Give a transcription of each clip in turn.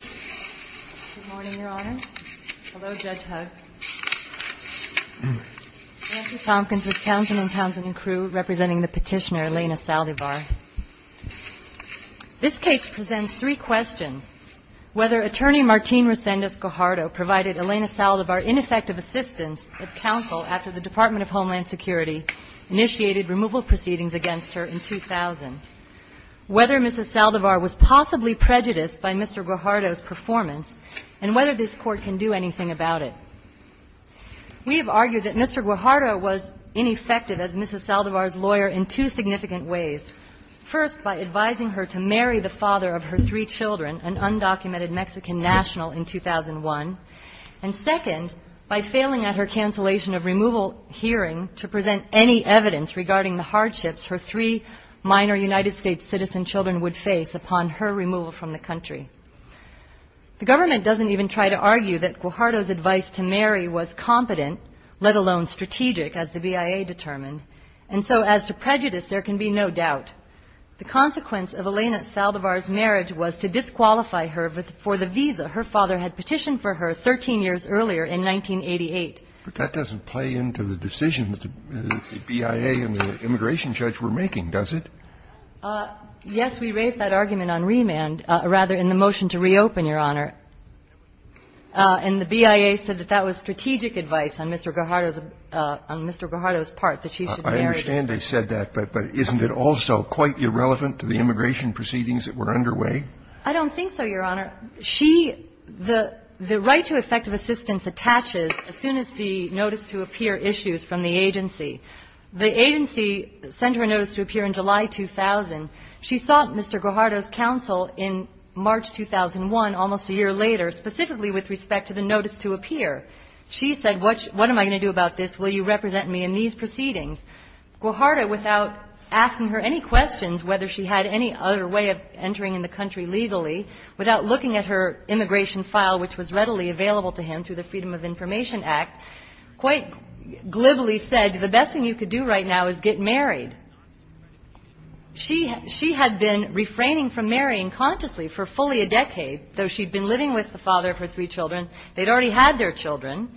Good morning, Your Honor. Hello, Judge Hugg. Nancy Tompkins with Councilman Townsend and crew, representing the petitioner Elena Saldivar. This case presents three questions. Whether Attorney Martín Reséndiz Guajardo provided Elena Saldivar ineffective assistance of counsel after the Department of Homeland Security initiated removal proceedings against her in 2000, whether Mrs. Saldivar was possibly prejudiced by Mr. Guajardo's performance, and whether this Court can do anything about it. We have argued that Mr. Guajardo was ineffective as Mrs. Saldivar's lawyer in two significant ways. First, by advising her to marry the father of her three children, an undocumented Mexican national, in 2001. And second, by failing at her cancellation of removal hearing to present any evidence regarding the hardships her three minor United States citizen children would face upon her removal from the country. The government doesn't even try to argue that Guajardo's advice to marry was competent, let alone strategic, as the BIA determined. And so as to prejudice, there can be no doubt. The consequence of Elena Saldivar's marriage was to disqualify her for the visa her father had petitioned for her 13 years earlier in 1988. But that doesn't play into the decisions the BIA and the immigration judge were making, does it? Yes, we raised that argument on remand, or rather in the motion to reopen, Your Honor. And the BIA said that that was strategic advice on Mr. Guajardo's part, that she should marry. I understand they said that, but isn't it also quite irrelevant to the immigration proceedings that were underway? I don't think so, Your Honor. The right to effective assistance attaches as soon as the notice to appear issues from the agency. The agency sent her a notice to appear in July 2000. She sought Mr. Guajardo's counsel in March 2001, almost a year later, specifically with respect to the notice to appear. She said, what am I going to do about this? Will you represent me in these proceedings? Guajardo, without asking her any questions whether she had any other way of entering the country legally, without looking at her immigration file, which was readily available to him through the Freedom of Information Act, quite glibly said, the best thing you could do right now is get married. She had been refraining from marrying consciously for fully a decade, though she'd been living with the father of her three children. They'd already had their children,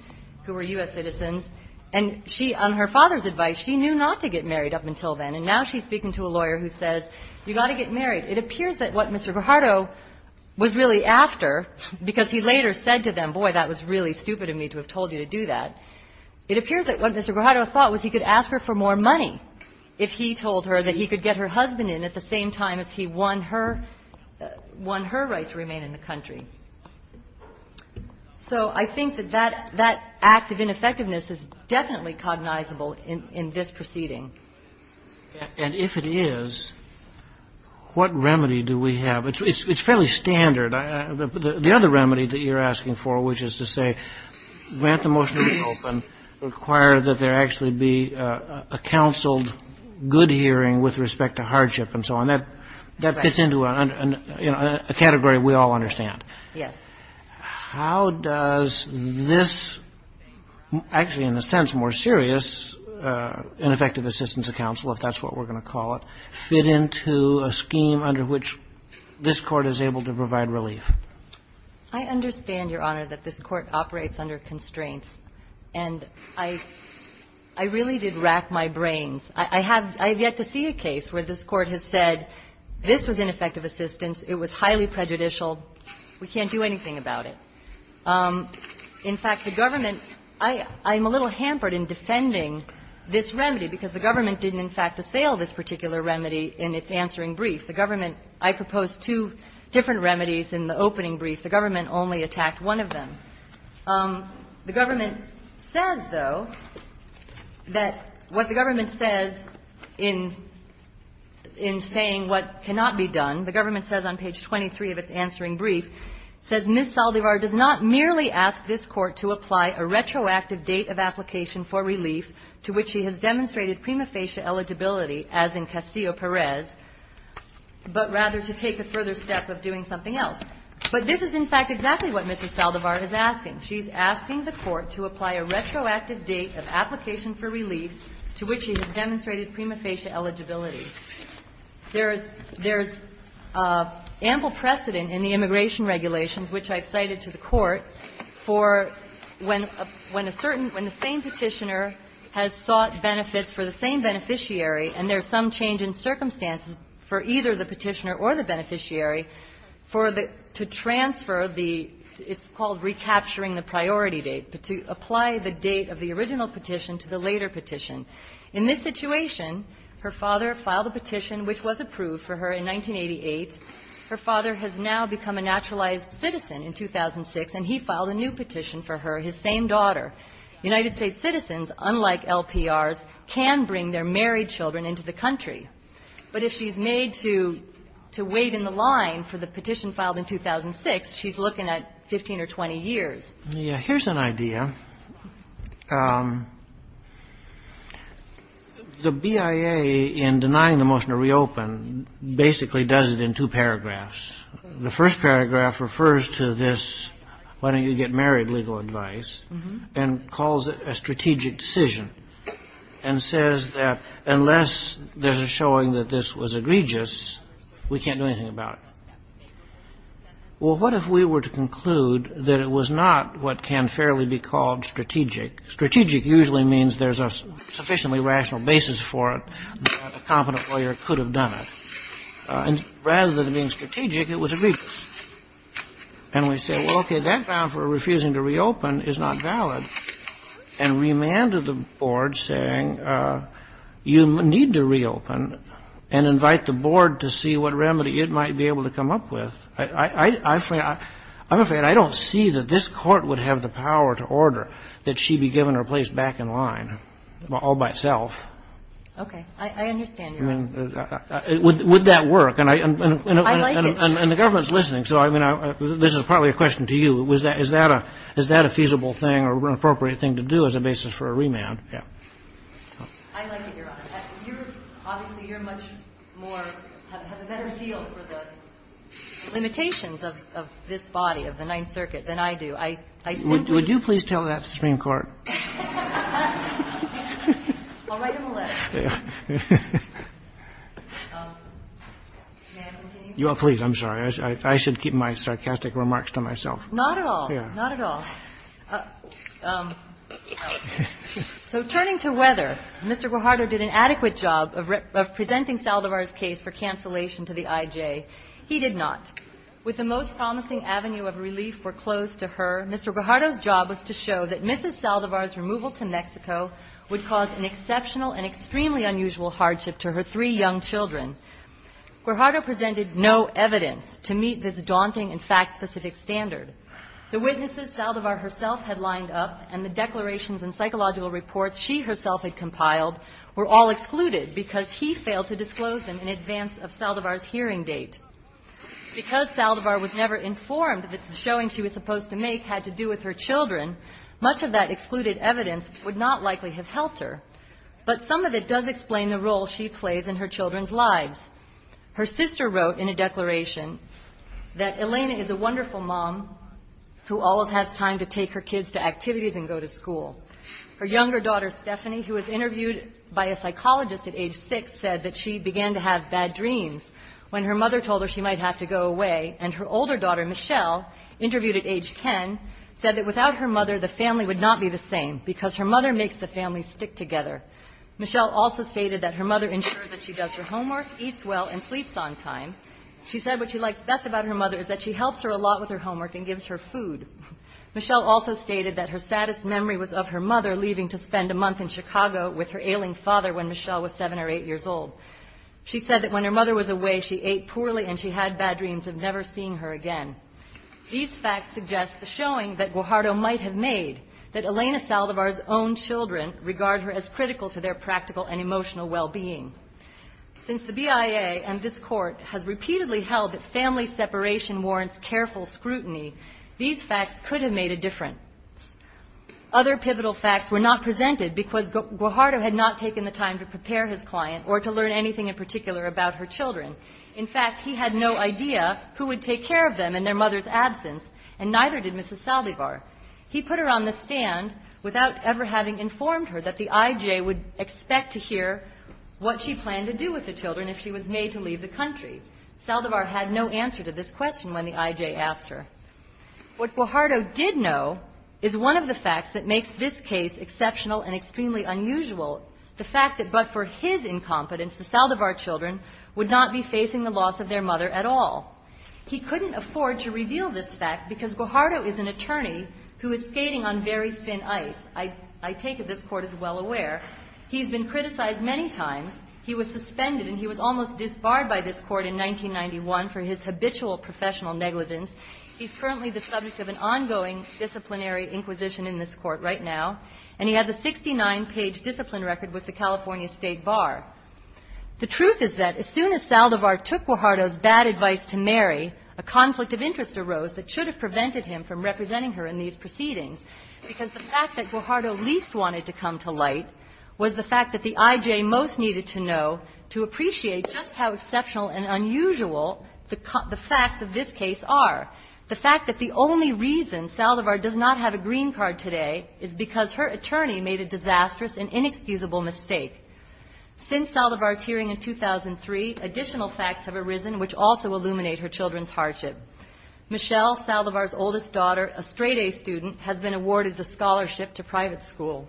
who were U.S. citizens. And on her father's advice, she knew not to get married up until then. And now she's speaking to a lawyer who says, you've got to get married. It appears that what Mr. Guajardo was really after, because he later said to them, boy, that was really stupid of me to have told you to do that. It appears that what Mr. Guajardo thought was he could ask her for more money if he told her that he could get her husband in at the same time as he won her right to remain in the country. So I think that that act of ineffectiveness is definitely cognizable in this proceeding. And if it is, what remedy do we have? It's fairly standard. The other remedy that you're asking for, which is to say, grant the motion to be open, require that there actually be a counseled good hearing with respect to hardship and so on. That fits into a category we all understand. Yes. How does this, actually in a sense more serious, ineffective assistance of counsel, if that's what we're going to call it, fit into a scheme under which this Court is able to provide relief? I understand, Your Honor, that this Court operates under constraints. And I really did rack my brains. I have yet to see a case where this Court has said, this was ineffective assistance. It was highly prejudicial. We can't do anything about it. In fact, the government – I'm a little hampered in defending this remedy because the government didn't, in fact, assail this particular remedy in its answering brief. The government – I proposed two different remedies in the opening brief. The government only attacked one of them. The government says, though, that what the government says in saying what cannot be done, the government says on page 23 of its answering brief, says, Ms. Saldivar does not merely ask this Court to apply a retroactive date of application for relief to which she has demonstrated prima facie eligibility, as in Castillo-Perez, but rather to take a further step of doing something else. But this is, in fact, exactly what Mrs. Saldivar is asking. She's asking the Court to apply a retroactive date of application for relief to which she has demonstrated prima facie eligibility. There's ample precedent in the immigration regulations, which I've cited to the Court, for when a certain – when the same Petitioner has sought benefits for the same beneficiary and there's some change in circumstances for either the Petitioner or the beneficiary for the – to transfer the – it's called recapturing the priority date, but to apply the date of the original petition to the later petition. In this situation, her father filed a petition which was approved for her in 1988. Her father has now become a naturalized citizen in 2006, and he filed a new petition for her, his same daughter. United States citizens, unlike LPRs, can bring their married children into the country. But if she's made to – to wait in the line for the petition filed in 2006, she's looking at 15 or 20 years. Here's an idea. The BIA, in denying the motion to reopen, basically does it in two paragraphs. The first paragraph refers to this why-don't-you-get-married legal advice and calls it a strategic decision and says that unless there's a showing that this was egregious, we can't do anything about it. Well, what if we were to conclude that it was not what can fairly be called strategic? Strategic usually means there's a sufficiently rational basis for it that a competent lawyer could have done it. And rather than being strategic, it was egregious. And we say, well, okay, that bound for refusing to reopen is not valid, and remanded the board saying you need to reopen and invite the board to see what remedy it might be able to come up with. I'm afraid I don't see that this court would have the power to order that she be given her place back in line all by itself. Okay. I understand, Your Honor. I mean, would that work? I like it. And the government's listening. So, I mean, this is probably a question to you. Is that a feasible thing or an appropriate thing to do as a basis for a remand? Yeah. I like it, Your Honor. Obviously, you're much more, have a better feel for the limitations of this body, of the Ninth Circuit, than I do. Would you please tell that to the Supreme Court? I'll write him a letter. May I continue? Please. I'm sorry. I should keep my sarcastic remarks to myself. Not at all. Not at all. So, turning to weather, Mr. Guajardo did an adequate job of presenting Saldivar's case for cancellation to the IJ. He did not. With the most promising avenue of relief foreclosed to her, Mr. Guajardo's job was to show that Mrs. Saldivar's removal to Mexico would cause an exceptional and extremely unusual hardship to her three young children. Guajardo presented no evidence to meet this daunting and fact-specific standard. The witnesses Saldivar herself had lined up and the declarations and psychological reports she herself had compiled were all excluded because he failed to disclose them in advance of Saldivar's hearing date. Because Saldivar was never informed that the showing she was supposed to make had to do with her children, much of that excluded evidence would not likely have helped her. But some of it does explain the role she plays in her children's lives. Her sister wrote in a declaration that Elena is a wonderful mom who always has time to take her kids to activities and go to school. Her younger daughter, Stephanie, who was interviewed by a psychologist at age six, said that she began to have bad dreams when her mother told her she might have to go away. And her older daughter, Michelle, interviewed at age 10, said that without her mother, the family would not be the same because her mother makes the family stick together. Michelle also stated that her mother ensures that she does her homework, eats well, and sleeps on time. She said what she likes best about her mother is that she helps her a lot with her homework and gives her food. Michelle also stated that her saddest memory was of her mother leaving to spend a month in Chicago with her ailing father when Michelle was seven or eight years old. She said that when her mother was away, she ate poorly and she had bad dreams of never seeing her again. These facts suggest the showing that Guajardo might have made, that Elena Saldivar's own children regard her as critical to their practical and emotional well-being. Since the BIA and this court has repeatedly held that family separation warrants careful scrutiny, these facts could have made a difference. Other pivotal facts were not presented because Guajardo had not taken the time to prepare his client or to learn anything in particular about her children. In fact, he had no idea who would take care of them in their mother's absence, and neither did Mrs. Saldivar. He put her on the stand without ever having informed her that the IJ would expect to hear what she planned to do with the children if she was made to leave the country. Saldivar had no answer to this question when the IJ asked her. What Guajardo did know is one of the facts that makes this case exceptional and extremely unusual, the fact that but for his incompetence, the Saldivar children would not be facing the loss of their mother at all. He couldn't afford to reveal this fact because Guajardo is an attorney who is skating on very thin ice. I take it this Court is well aware. He's been criticized many times. He was suspended and he was almost disbarred by this Court in 1991 for his habitual professional negligence. He's currently the subject of an ongoing disciplinary inquisition in this Court right now, and he has a 69-page discipline record with the California State Bar. The truth is that as soon as Saldivar took Guajardo's bad advice to Mary, a conflict of interest arose that should have prevented him from representing her in these proceedings, because the fact that Guajardo least wanted to come to light was the fact that the IJ most needed to know to appreciate just how exceptional and unusual the facts of this case are. The fact that the only reason Saldivar does not have a green card today is because her attorney made a disastrous and inexcusable mistake. Since Saldivar's hearing in 2003, additional facts have arisen which also illuminate her children's hardship. Michelle, Saldivar's oldest daughter, a straight-A student, has been awarded the scholarship to private school.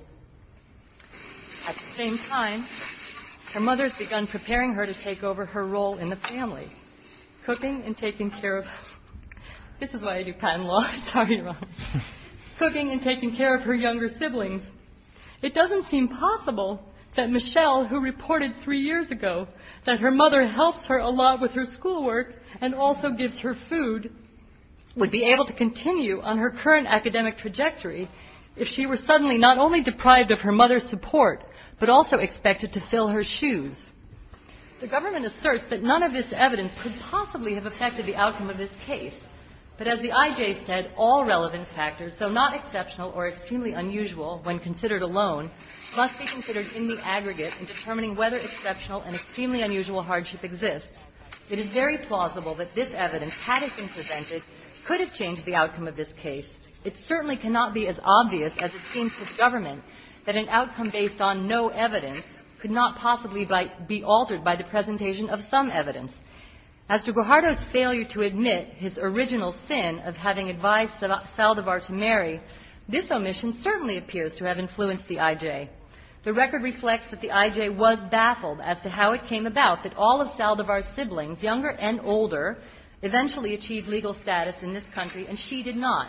At the same time, her mother has begun preparing her to take over her role in the family, cooking and taking care of her younger sibling. It doesn't seem possible that Michelle, who reported three years ago that her mother helps her a lot with her schoolwork and also gives her food, would be able to continue on her current academic trajectory if she were suddenly not only deprived of her mother's support, but also expected to fill her shoes. The government asserts that none of this evidence could possibly have affected the outcome of this case, but as the IJ said, all relevant factors, though not exceptional or extremely unusual when considered alone, must be considered in the aggregate in determining whether exceptional and extremely unusual hardship exists. It is very plausible that this evidence, had it been presented, could have changed the outcome of this case. It certainly cannot be as obvious as it seems to the government that an outcome based on no evidence could not possibly be altered by the presentation of some evidence. As to Guajardo's failure to admit his original sin of having advised Saldivar to marry, this omission certainly appears to have influenced the IJ. The record reflects that the IJ was baffled as to how it came about that all of Saldivar's siblings, younger and older, eventually achieved legal status in this country, and she did not.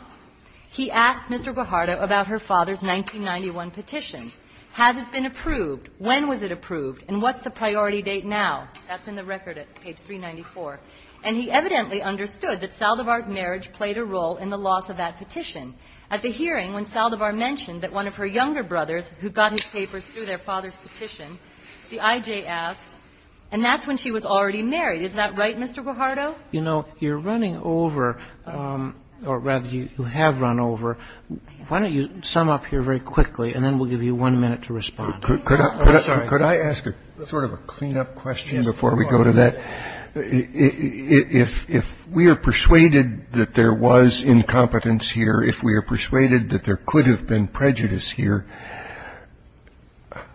He asked Mr. Guajardo about her father's 1991 petition. Has it been approved? When was it approved? And what's the priority date now? That's in the record at page 394. And he evidently understood that Saldivar's marriage played a role in the loss of that petition. At the hearing, when Saldivar mentioned that one of her younger brothers, who got his papers through their father's petition, the IJ asked, and that's when she was already married. Is that right, Mr. Guajardo? You know, you're running over, or rather you have run over. Why don't you sum up here very quickly, and then we'll give you one minute to respond. I'm sorry. Could I ask a sort of a cleanup question before we go to that? If we are persuaded that there was incompetence here, if we are persuaded that there could have been prejudice here,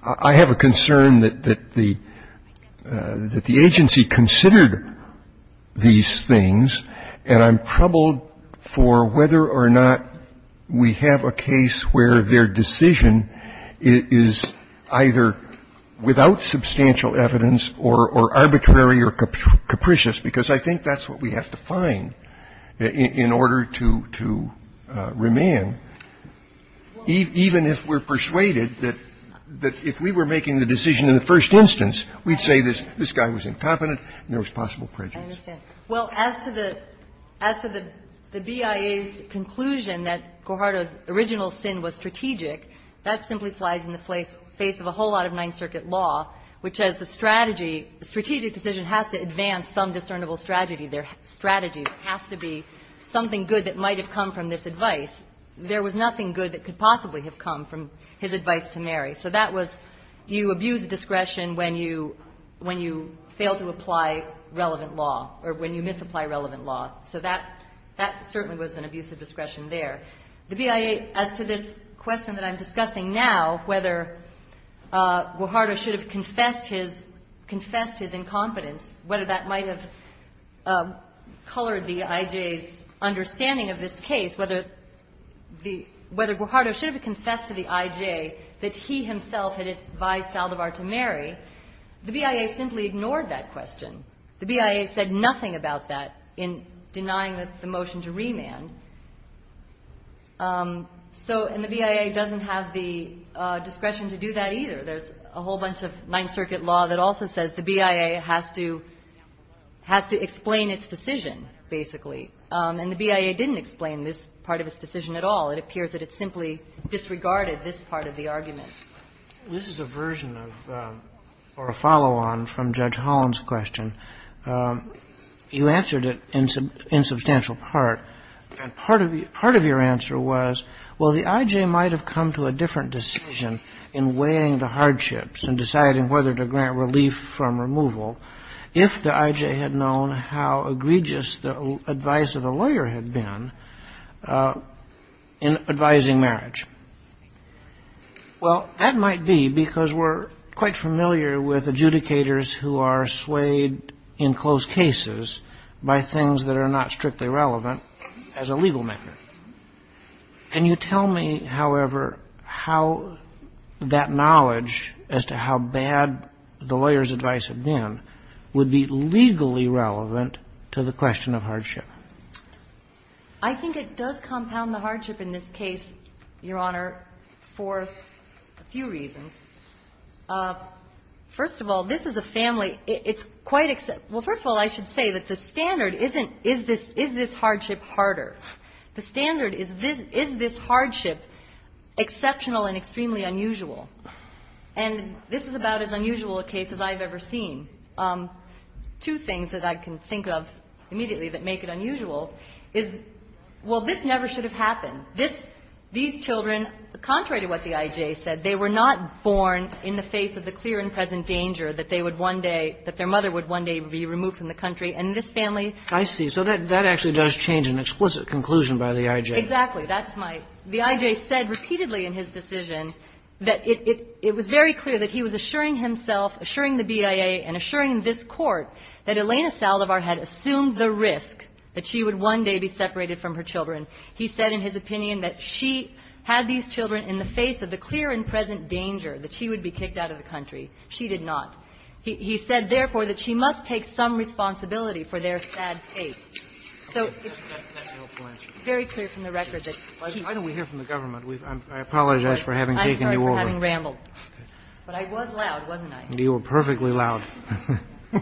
I have a concern that the agency considered these things, and I'm troubled for whether or not we have a case where their decision is either without substantial evidence or arbitrary or capricious, because I think that's what we have to find in order to remand, even if we're persuaded that if we were making the decision in the first instance, we'd say this guy was incompetent and there was possible prejudice. I understand. Well, as to the BIA's conclusion that Guajardo's original sin was strategic, that simply flies in the face of a whole lot of Ninth Circuit law, which has a strategy, a strategic decision has to advance some discernible strategy. There has to be something good that might have come from this advice. There was nothing good that could possibly have come from his advice to Mary. So that was you abuse discretion when you fail to apply relevant law or when you misapply relevant law. So that certainly was an abuse of discretion there. The BIA, as to this question that I'm discussing now, whether Guajardo should have confessed his incompetence, whether that might have colored the IJ's understanding of this case, whether Guajardo should have confessed to the IJ that he himself had advised Saldivar to Mary, the BIA simply ignored that question. The BIA said nothing about that in denying the motion to remand. And the BIA doesn't have the discretion to do that either. There's a whole bunch of Ninth Circuit law that also says the BIA has to explain its decision, basically. And the BIA didn't explain this part of its decision at all. It appears that it simply disregarded this part of the argument. This is a version of, or a follow-on from Judge Holland's question. You answered it in substantial part. And part of your answer was, well, the IJ might have come to a different decision in weighing the hardships and deciding whether to grant relief from removal if the advice of the lawyer had been in advising marriage. Well, that might be because we're quite familiar with adjudicators who are swayed in close cases by things that are not strictly relevant as a legal matter. Can you tell me, however, how that knowledge as to how bad the lawyer's advice had been would be legally relevant to the question of hardship? I think it does compound the hardship in this case, Your Honor, for a few reasons. First of all, this is a family. It's quite except — well, first of all, I should say that the standard isn't, is this hardship harder? The standard is, is this hardship exceptional and extremely unusual? And this is about as unusual a case as I've ever seen. Two things that I can think of immediately that make it unusual is, well, this never should have happened. This — these children, contrary to what the IJ said, they were not born in the face of the clear and present danger that they would one day — that their mother would one day be removed from the country. And this family — I see. So that actually does change an explicit conclusion by the IJ. Exactly. That's my — the IJ said repeatedly in his decision that it — it was very clear that he was assuring himself, assuring the BIA, and assuring this Court that Elena Salovar had assumed the risk that she would one day be separated from her children. He said in his opinion that she had these children in the face of the clear and present danger that she would be kicked out of the country. She did not. He said, therefore, that she must take some responsibility for their sad fate. So it's very clear from the record that she did not. I think — Why don't we hear from the government? I apologize for having taken you over. I'm sorry for having rambled. But I was loud, wasn't I? You were perfectly loud. Good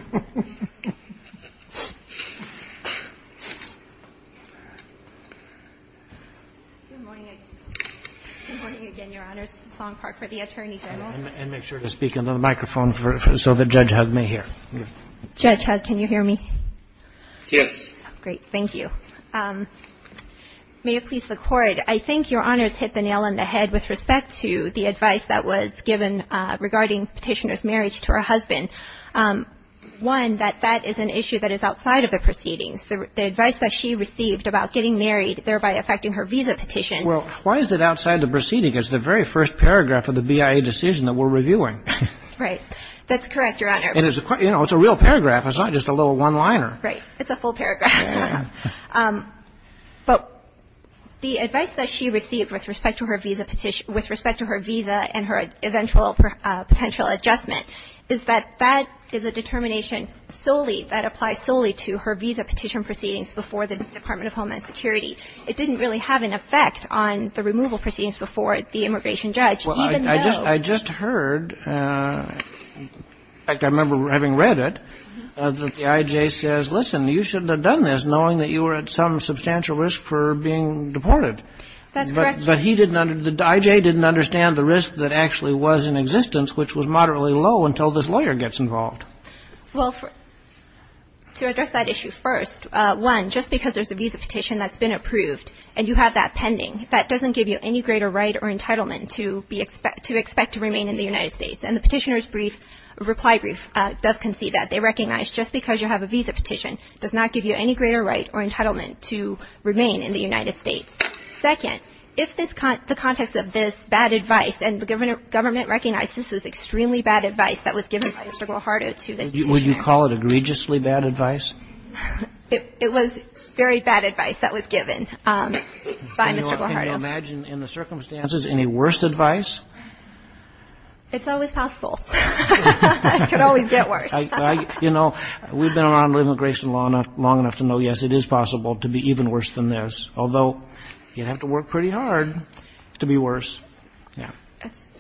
morning. Good morning again, Your Honors. Song Park for the Attorney General. And make sure to speak into the microphone so that Judge Hudd may hear. Judge Hudd, can you hear me? Yes. Great. Thank you. May it please the Court, I think Your Honors hit the nail on the head with respect to the advice that was given regarding Petitioner's marriage to her husband. One, that that is an issue that is outside of the proceedings. The advice that she received about getting married, thereby affecting her visa petition. Well, why is it outside the proceedings? It's the very first paragraph of the BIA decision that we're reviewing. Right. That's correct, Your Honor. And it's a real paragraph. It's not just a little one-liner. Right. It's a full paragraph. But the advice that she received with respect to her visa petition, with respect to her visa and her eventual potential adjustment, is that that is a determination solely, that applies solely to her visa petition proceedings before the Department of Homeland Security. It didn't really have an effect on the removal proceedings before the immigration judge, even though. Well, I just heard, in fact, I remember having read it, that the IJ says, listen, you shouldn't have done this knowing that you were at some substantial risk for being deported. That's correct. But he didn't, the IJ didn't understand the risk that actually was in existence, which was moderately low until this lawyer gets involved. Well, to address that issue first, one, just because there's a visa petition that's been approved and you have that pending, that doesn't give you any greater right or entitlement to expect to remain in the United States. And the Petitioner's reply brief does concede that. They recognize just because you have a visa petition does not give you any greater right or entitlement to remain in the United States. Second, if the context of this bad advice, and the government recognized this was extremely bad advice that was given by Mr. Guajardo to this Petitioner. Would you call it egregiously bad advice? It was very bad advice that was given by Mr. Guajardo. Can you imagine in the circumstances any worse advice? It's always possible. It could always get worse. You know, we've been around immigration law long enough to know, yes, it is possible to be even worse than this. Although you'd have to work pretty hard to be worse.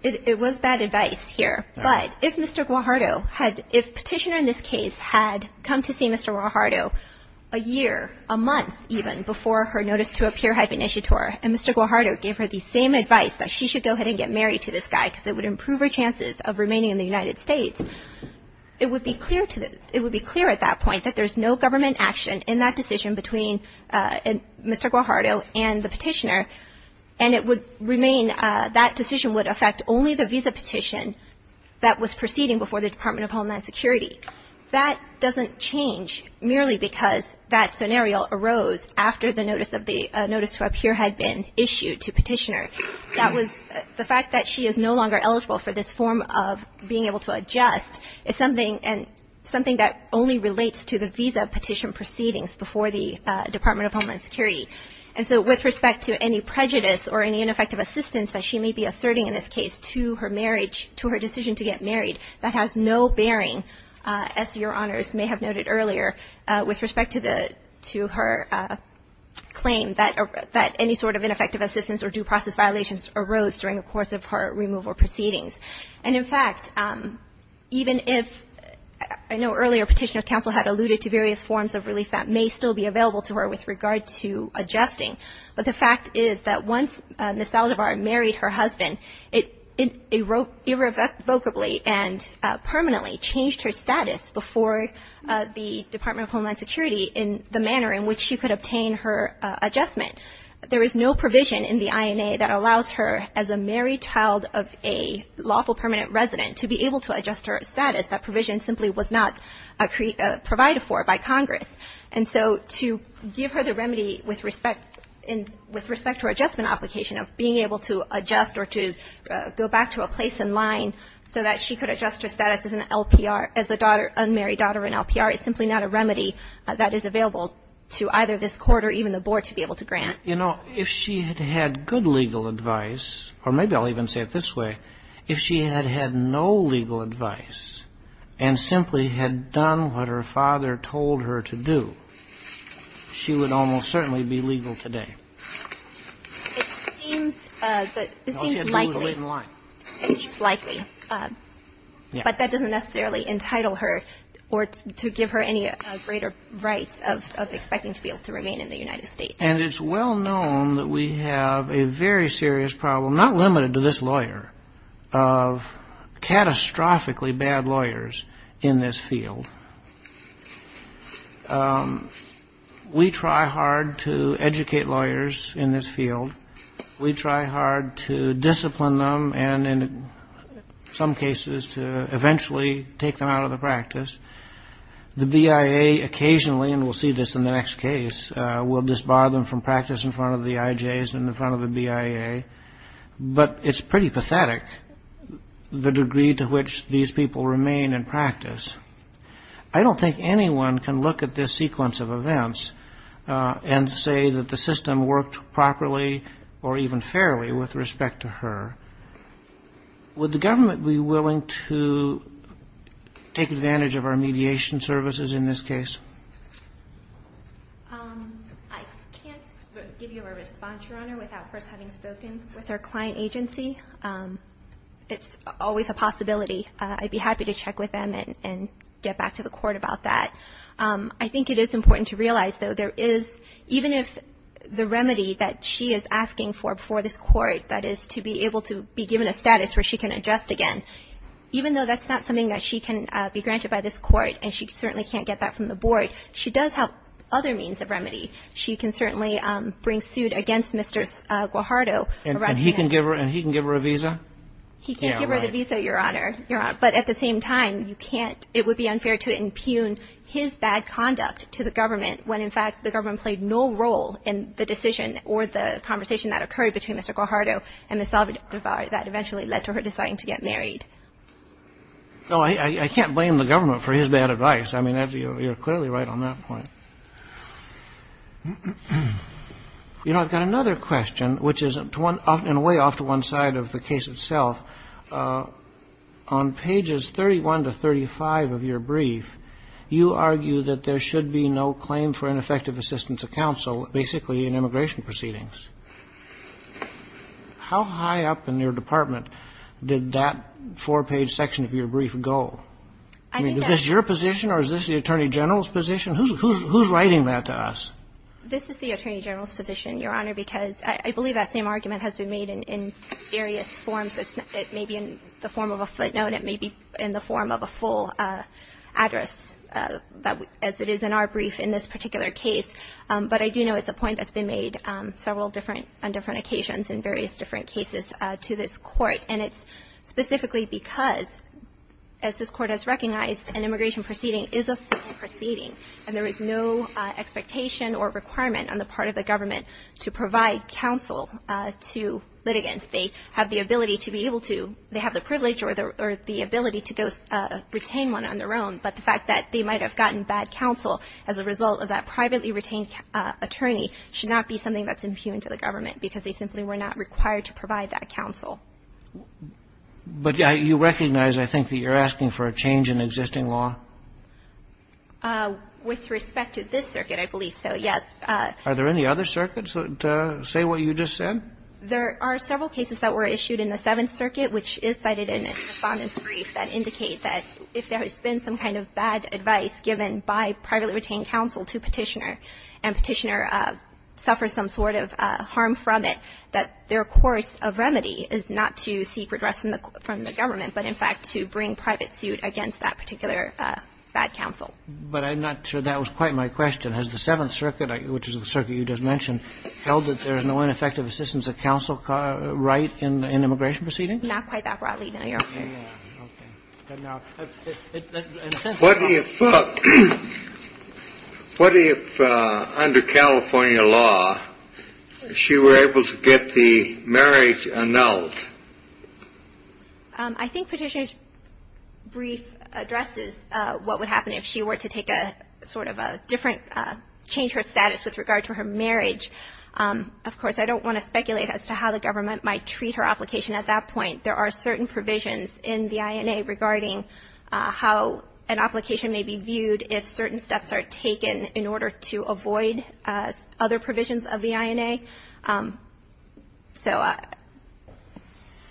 It was bad advice here. But if Mr. Guajardo had, if Petitioner in this case had come to see Mr. Guajardo a year, a month even before her notice to appear had been issued to her, and Mr. Guajardo gave her the same advice that she should go ahead and get married to this guy because it would improve her chances of remaining in the United States, it would be clear at that point that there's no government action in that decision between Mr. Guajardo and the Petitioner, and it would remain, that decision would affect only the visa petition that was proceeding before the Department of Homeland Security. That doesn't change merely because that scenario arose after the notice to appear had been issued to Petitioner. That was, the fact that she is no longer eligible for this form of being able to adjust is something that only relates to the visa petition proceedings before the Department of Homeland Security. And so with respect to any prejudice or any ineffective assistance that she may be asserting in this case to her marriage, to her decision to get married, that has no bearing, as Your Honors may have noted earlier, with respect to her claim that any sort of ineffective assistance or due process violations arose during the course of her removal proceedings. And, in fact, even if I know earlier Petitioner's counsel had alluded to various forms of relief that may still be available to her with regard to adjusting, but the fact is that once Ms. Saldivar married her husband, it irrevocably and permanently changed her status before the Department of Homeland Security in the manner in which she could obtain her adjustment. There is no provision in the INA that allows her, as a married child of a lawful permanent resident, to be able to adjust her status. That provision simply was not provided for by Congress. And so to give her the remedy with respect to her adjustment application of being able to adjust or to go back to a place in line so that she could adjust her status as an LPR, as a daughter, unmarried daughter in LPR, is simply not a remedy that is available to either this Court or even the Board to be able to grant. You know, if she had had good legal advice, or maybe I'll even say it this way, if she had had no legal advice and simply had done what her father told her to do, she would almost certainly be legal today. It seems likely. It seems likely. But that doesn't necessarily entitle her or to give her any greater rights of expecting to be able to remain in the United States. And it's well known that we have a very serious problem, not limited to this lawyer, of catastrophically bad lawyers in this field. We try hard to educate lawyers in this field. We try hard to discipline them and, in some cases, to eventually take them out of the practice. The BIA occasionally, and we'll see this in the next case, will disbar them from practice in front of the IJs and in front of the BIA. But it's pretty pathetic the degree to which these people remain in practice. I don't think anyone can look at this sequence of events and say that the system worked properly or even fairly with respect to her. Would the government be willing to take advantage of our mediation services in this case? I can't give you a response, Your Honor, without first having spoken with our client agency. It's always a possibility. I'd be happy to check with them and get back to the court about that. I think it is important to realize, though, there is, even if the remedy that she is asking for before this court, that is to be able to be given a status where she can adjust again, even though that's not something that she can be granted by this court and she certainly can't get that from the board, she does have other means of remedy. She can certainly bring suit against Mr. Guajardo. And he can give her a visa? He can't give her the visa, Your Honor. But at the same time, it would be unfair to impugn his bad conduct to the government when, in fact, the government played no role in the decision or the conversation that occurred between Mr. Guajardo and Ms. Salvador that eventually led to her deciding to get married. No, I can't blame the government for his bad advice. I mean, you're clearly right on that point. You know, I've got another question, which is in a way off to one side of the case itself. On pages 31 to 35 of your brief, you argue that there should be no claim for ineffective assistance of counsel basically in immigration proceedings. How high up in your department did that four-page section of your brief go? I mean, is this your position or is this the Attorney General's position? Who's writing that to us? This is the Attorney General's position, Your Honor, because I believe that same argument has been made in various forms. It may be in the form of a footnote. It may be in the form of a full address, as it is in our brief in this particular case. But I do know it's a point that's been made several different – on different occasions in various different cases to this Court. And it's specifically because, as this Court has recognized, an immigration proceeding is a civil proceeding, and there is no expectation or requirement on the part of the government to provide counsel to litigants. They have the ability to be able to – they have the privilege or the ability to go – retain one on their own. But the fact that they might have gotten bad counsel as a result of that privately retained attorney should not be something that's impugned to the government because they simply were not required to provide that counsel. But you recognize, I think, that you're asking for a change in existing law? With respect to this circuit, I believe so, yes. Are there any other circuits that say what you just said? There are several cases that were issued in the Seventh Circuit, which is cited in the Respondent's brief, that indicate that if there has been some kind of bad advice given by privately retained counsel to Petitioner and Petitioner suffers some sort of harm from it, that their course of remedy is not to seek redress from the government, but in fact to bring private suit against that particular bad counsel. But I'm not sure that was quite my question. Has the Seventh Circuit, which is the circuit you just mentioned, held that there is no ineffective assistance of counsel right in immigration proceedings? Not quite that broadly, no, Your Honor. Okay. What if under California law, she were able to get the marriage annulled? I think Petitioner's brief addresses what would happen if she were to take a sort of a different change her status with regard to her marriage. Of course, I don't want to speculate as to how the government might treat her application at that point. There are certain provisions in the INA regarding how an application may be viewed if certain steps are taken in order to avoid other provisions of the INA. So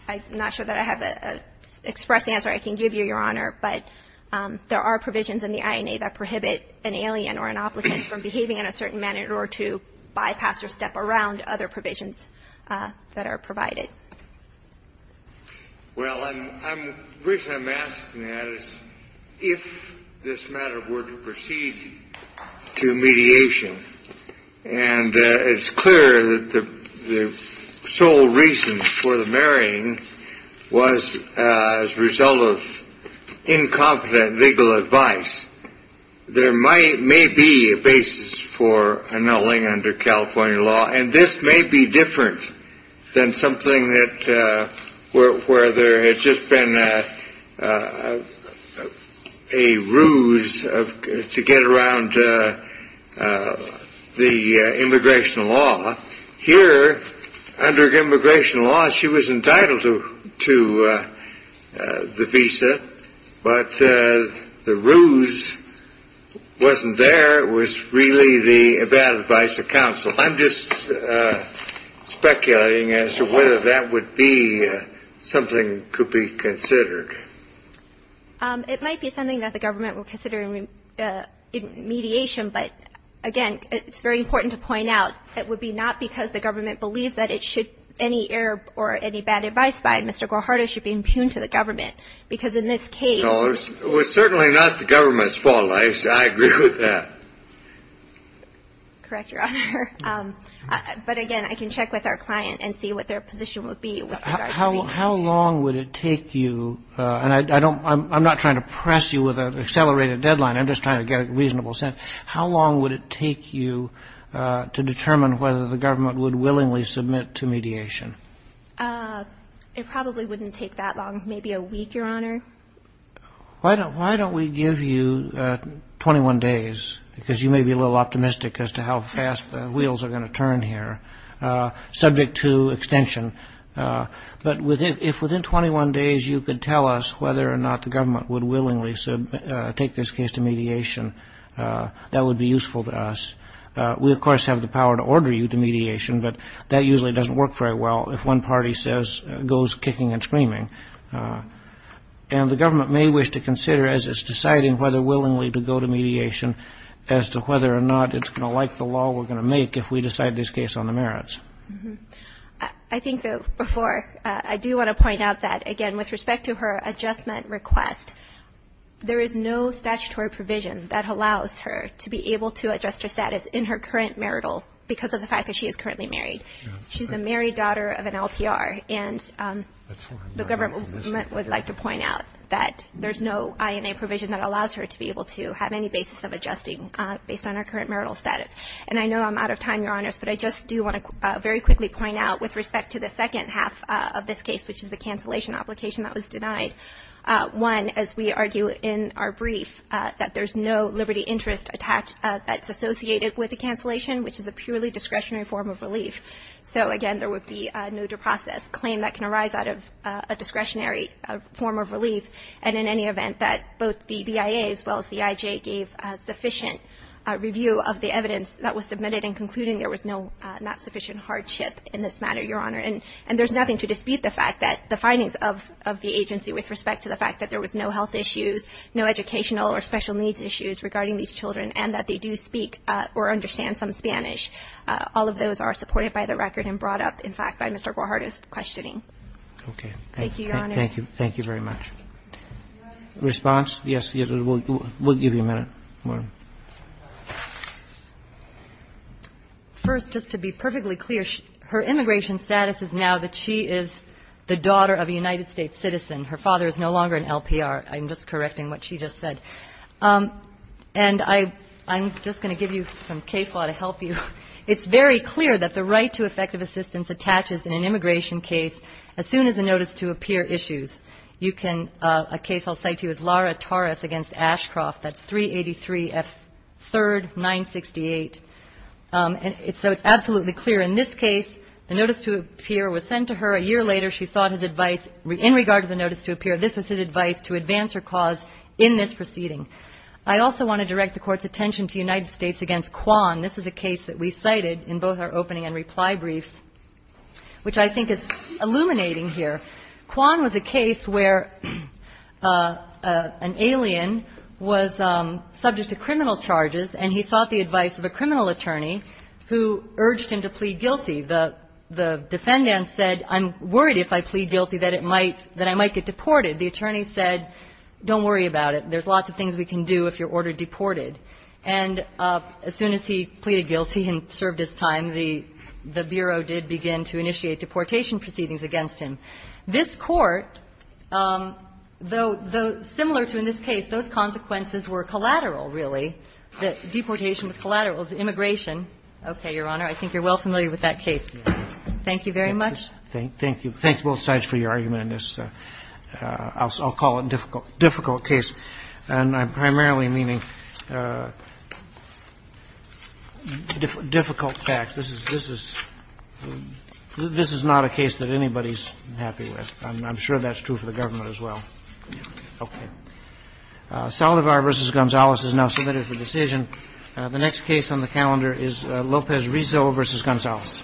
I'm not sure that I have an express answer I can give you, Your Honor, but there are provisions in the INA that prohibit an alien or an applicant from behaving in a certain manner or to bypass or step around other provisions that are provided. Well, the reason I'm asking that is if this matter were to proceed to mediation, and it's clear that the sole reason for the marrying was as a result of incompetent legal advice, there may be a basis for annulling under California law, and this may be different than something that where there had just been a ruse to get around the immigration law. Here, under immigration law, she was entitled to the visa, but the ruse wasn't there. It was really the bad advice of counsel. I'm just speculating as to whether that would be something could be considered. It might be something that the government would consider in mediation, but, again, it's very important to point out, it would be not because the government believes that any error or any bad advice by Mr. Guajardo should be impugned to the government, because in this case ---- No, it was certainly not the government's fault. I agree with that. Correct, Your Honor. But, again, I can check with our client and see what their position would be with regard to mediation. How long would it take you? And I don't ---- I'm not trying to press you with an accelerated deadline. I'm just trying to get a reasonable sense. How long would it take you to determine whether the government would willingly submit to mediation? It probably wouldn't take that long, maybe a week, Your Honor. Why don't we give you 21 days? Because you may be a little optimistic as to how fast the wheels are going to turn here, subject to extension. But if within 21 days you could tell us whether or not the government would willingly take this case to mediation, that would be useful to us. We, of course, have the power to order you to mediation, but that usually doesn't work very well if one party goes kicking and screaming. And the government may wish to consider, as it's deciding whether willingly to go to mediation, as to whether or not it's going to like the law we're going to make if we decide this case on the merits. I think, though, before, I do want to point out that, again, with respect to her adjustment request, there is no statutory provision that allows her to be able to adjust her status in her current marital because of the fact that she is currently married. She's a married daughter of an LPR, and the government would like to point out that there's no INA provision that allows her to be able to have any basis of adjusting based on her current marital status. And I know I'm out of time, Your Honors, but I just do want to very quickly point out, with respect to the second half of this case, which is the cancellation application that was denied, one, as we argue in our brief, that there's no liberty interest that's associated with the cancellation, which is a purely discretionary form of relief. So, again, there would be no due process claim that can arise out of a discretionary form of relief, and in any event, that both the BIA as well as the IJ gave sufficient review of the evidence that was submitted in concluding there was no not sufficient hardship in this matter, Your Honor. And there's nothing to dispute the fact that the findings of the agency with respect to the fact that there was no health issues, no educational or special needs issues regarding these children, and that they do speak or understand some Spanish, all of those are supported by the record and brought up, in fact, by Mr. Guajardo's questioning. Thank you, Your Honors. Thank you. Thank you very much. Response? Yes. We'll give you a minute. First, just to be perfectly clear, her immigration status is now that she is the daughter of a United States citizen. Her father is no longer an LPR. I'm just correcting what she just said. And I'm just going to give you some CAFO to help you. It's very clear that the right to effective assistance attaches in an immigration case as soon as a notice to appear issues. You can — a case I'll cite to you is Lara Torres v. Ashcroft. That's 383 F. 3rd, 968. So it's absolutely clear. In this case, the notice to appear was sent to her a year later. She sought his advice in regard to the notice to appear. This was his advice to advance her cause in this proceeding. I also want to direct the Court's attention to United States v. Kwan. This is a case that we cited in both our opening and reply briefs, which I think is illuminating here. Kwan was a case where an alien was subject to criminal charges, and he sought the advice of a criminal attorney who urged him to plead guilty. The defendant said, I'm worried if I plead guilty that I might get deported. The attorney said, don't worry about it. There's lots of things we can do if you're ordered deported. And as soon as he pleaded guilty and served his time, the Bureau did begin to initiate deportation proceedings against him. This Court, though similar to in this case, those consequences were collateral, really. Deportation was collateral. It was immigration. Okay, Your Honor. I think you're well familiar with that case. Thank you very much. Roberts. Thank you. Thank you both sides for your argument on this. I'll call it a difficult case. And I'm primarily meaning difficult facts. This is not a case that anybody's happy with. I'm sure that's true for the government as well. Okay. Saldivar v. Gonzales is now submitted for decision. The next case on the calendar is Lopez Rizzo v. Gonzales. Thank you.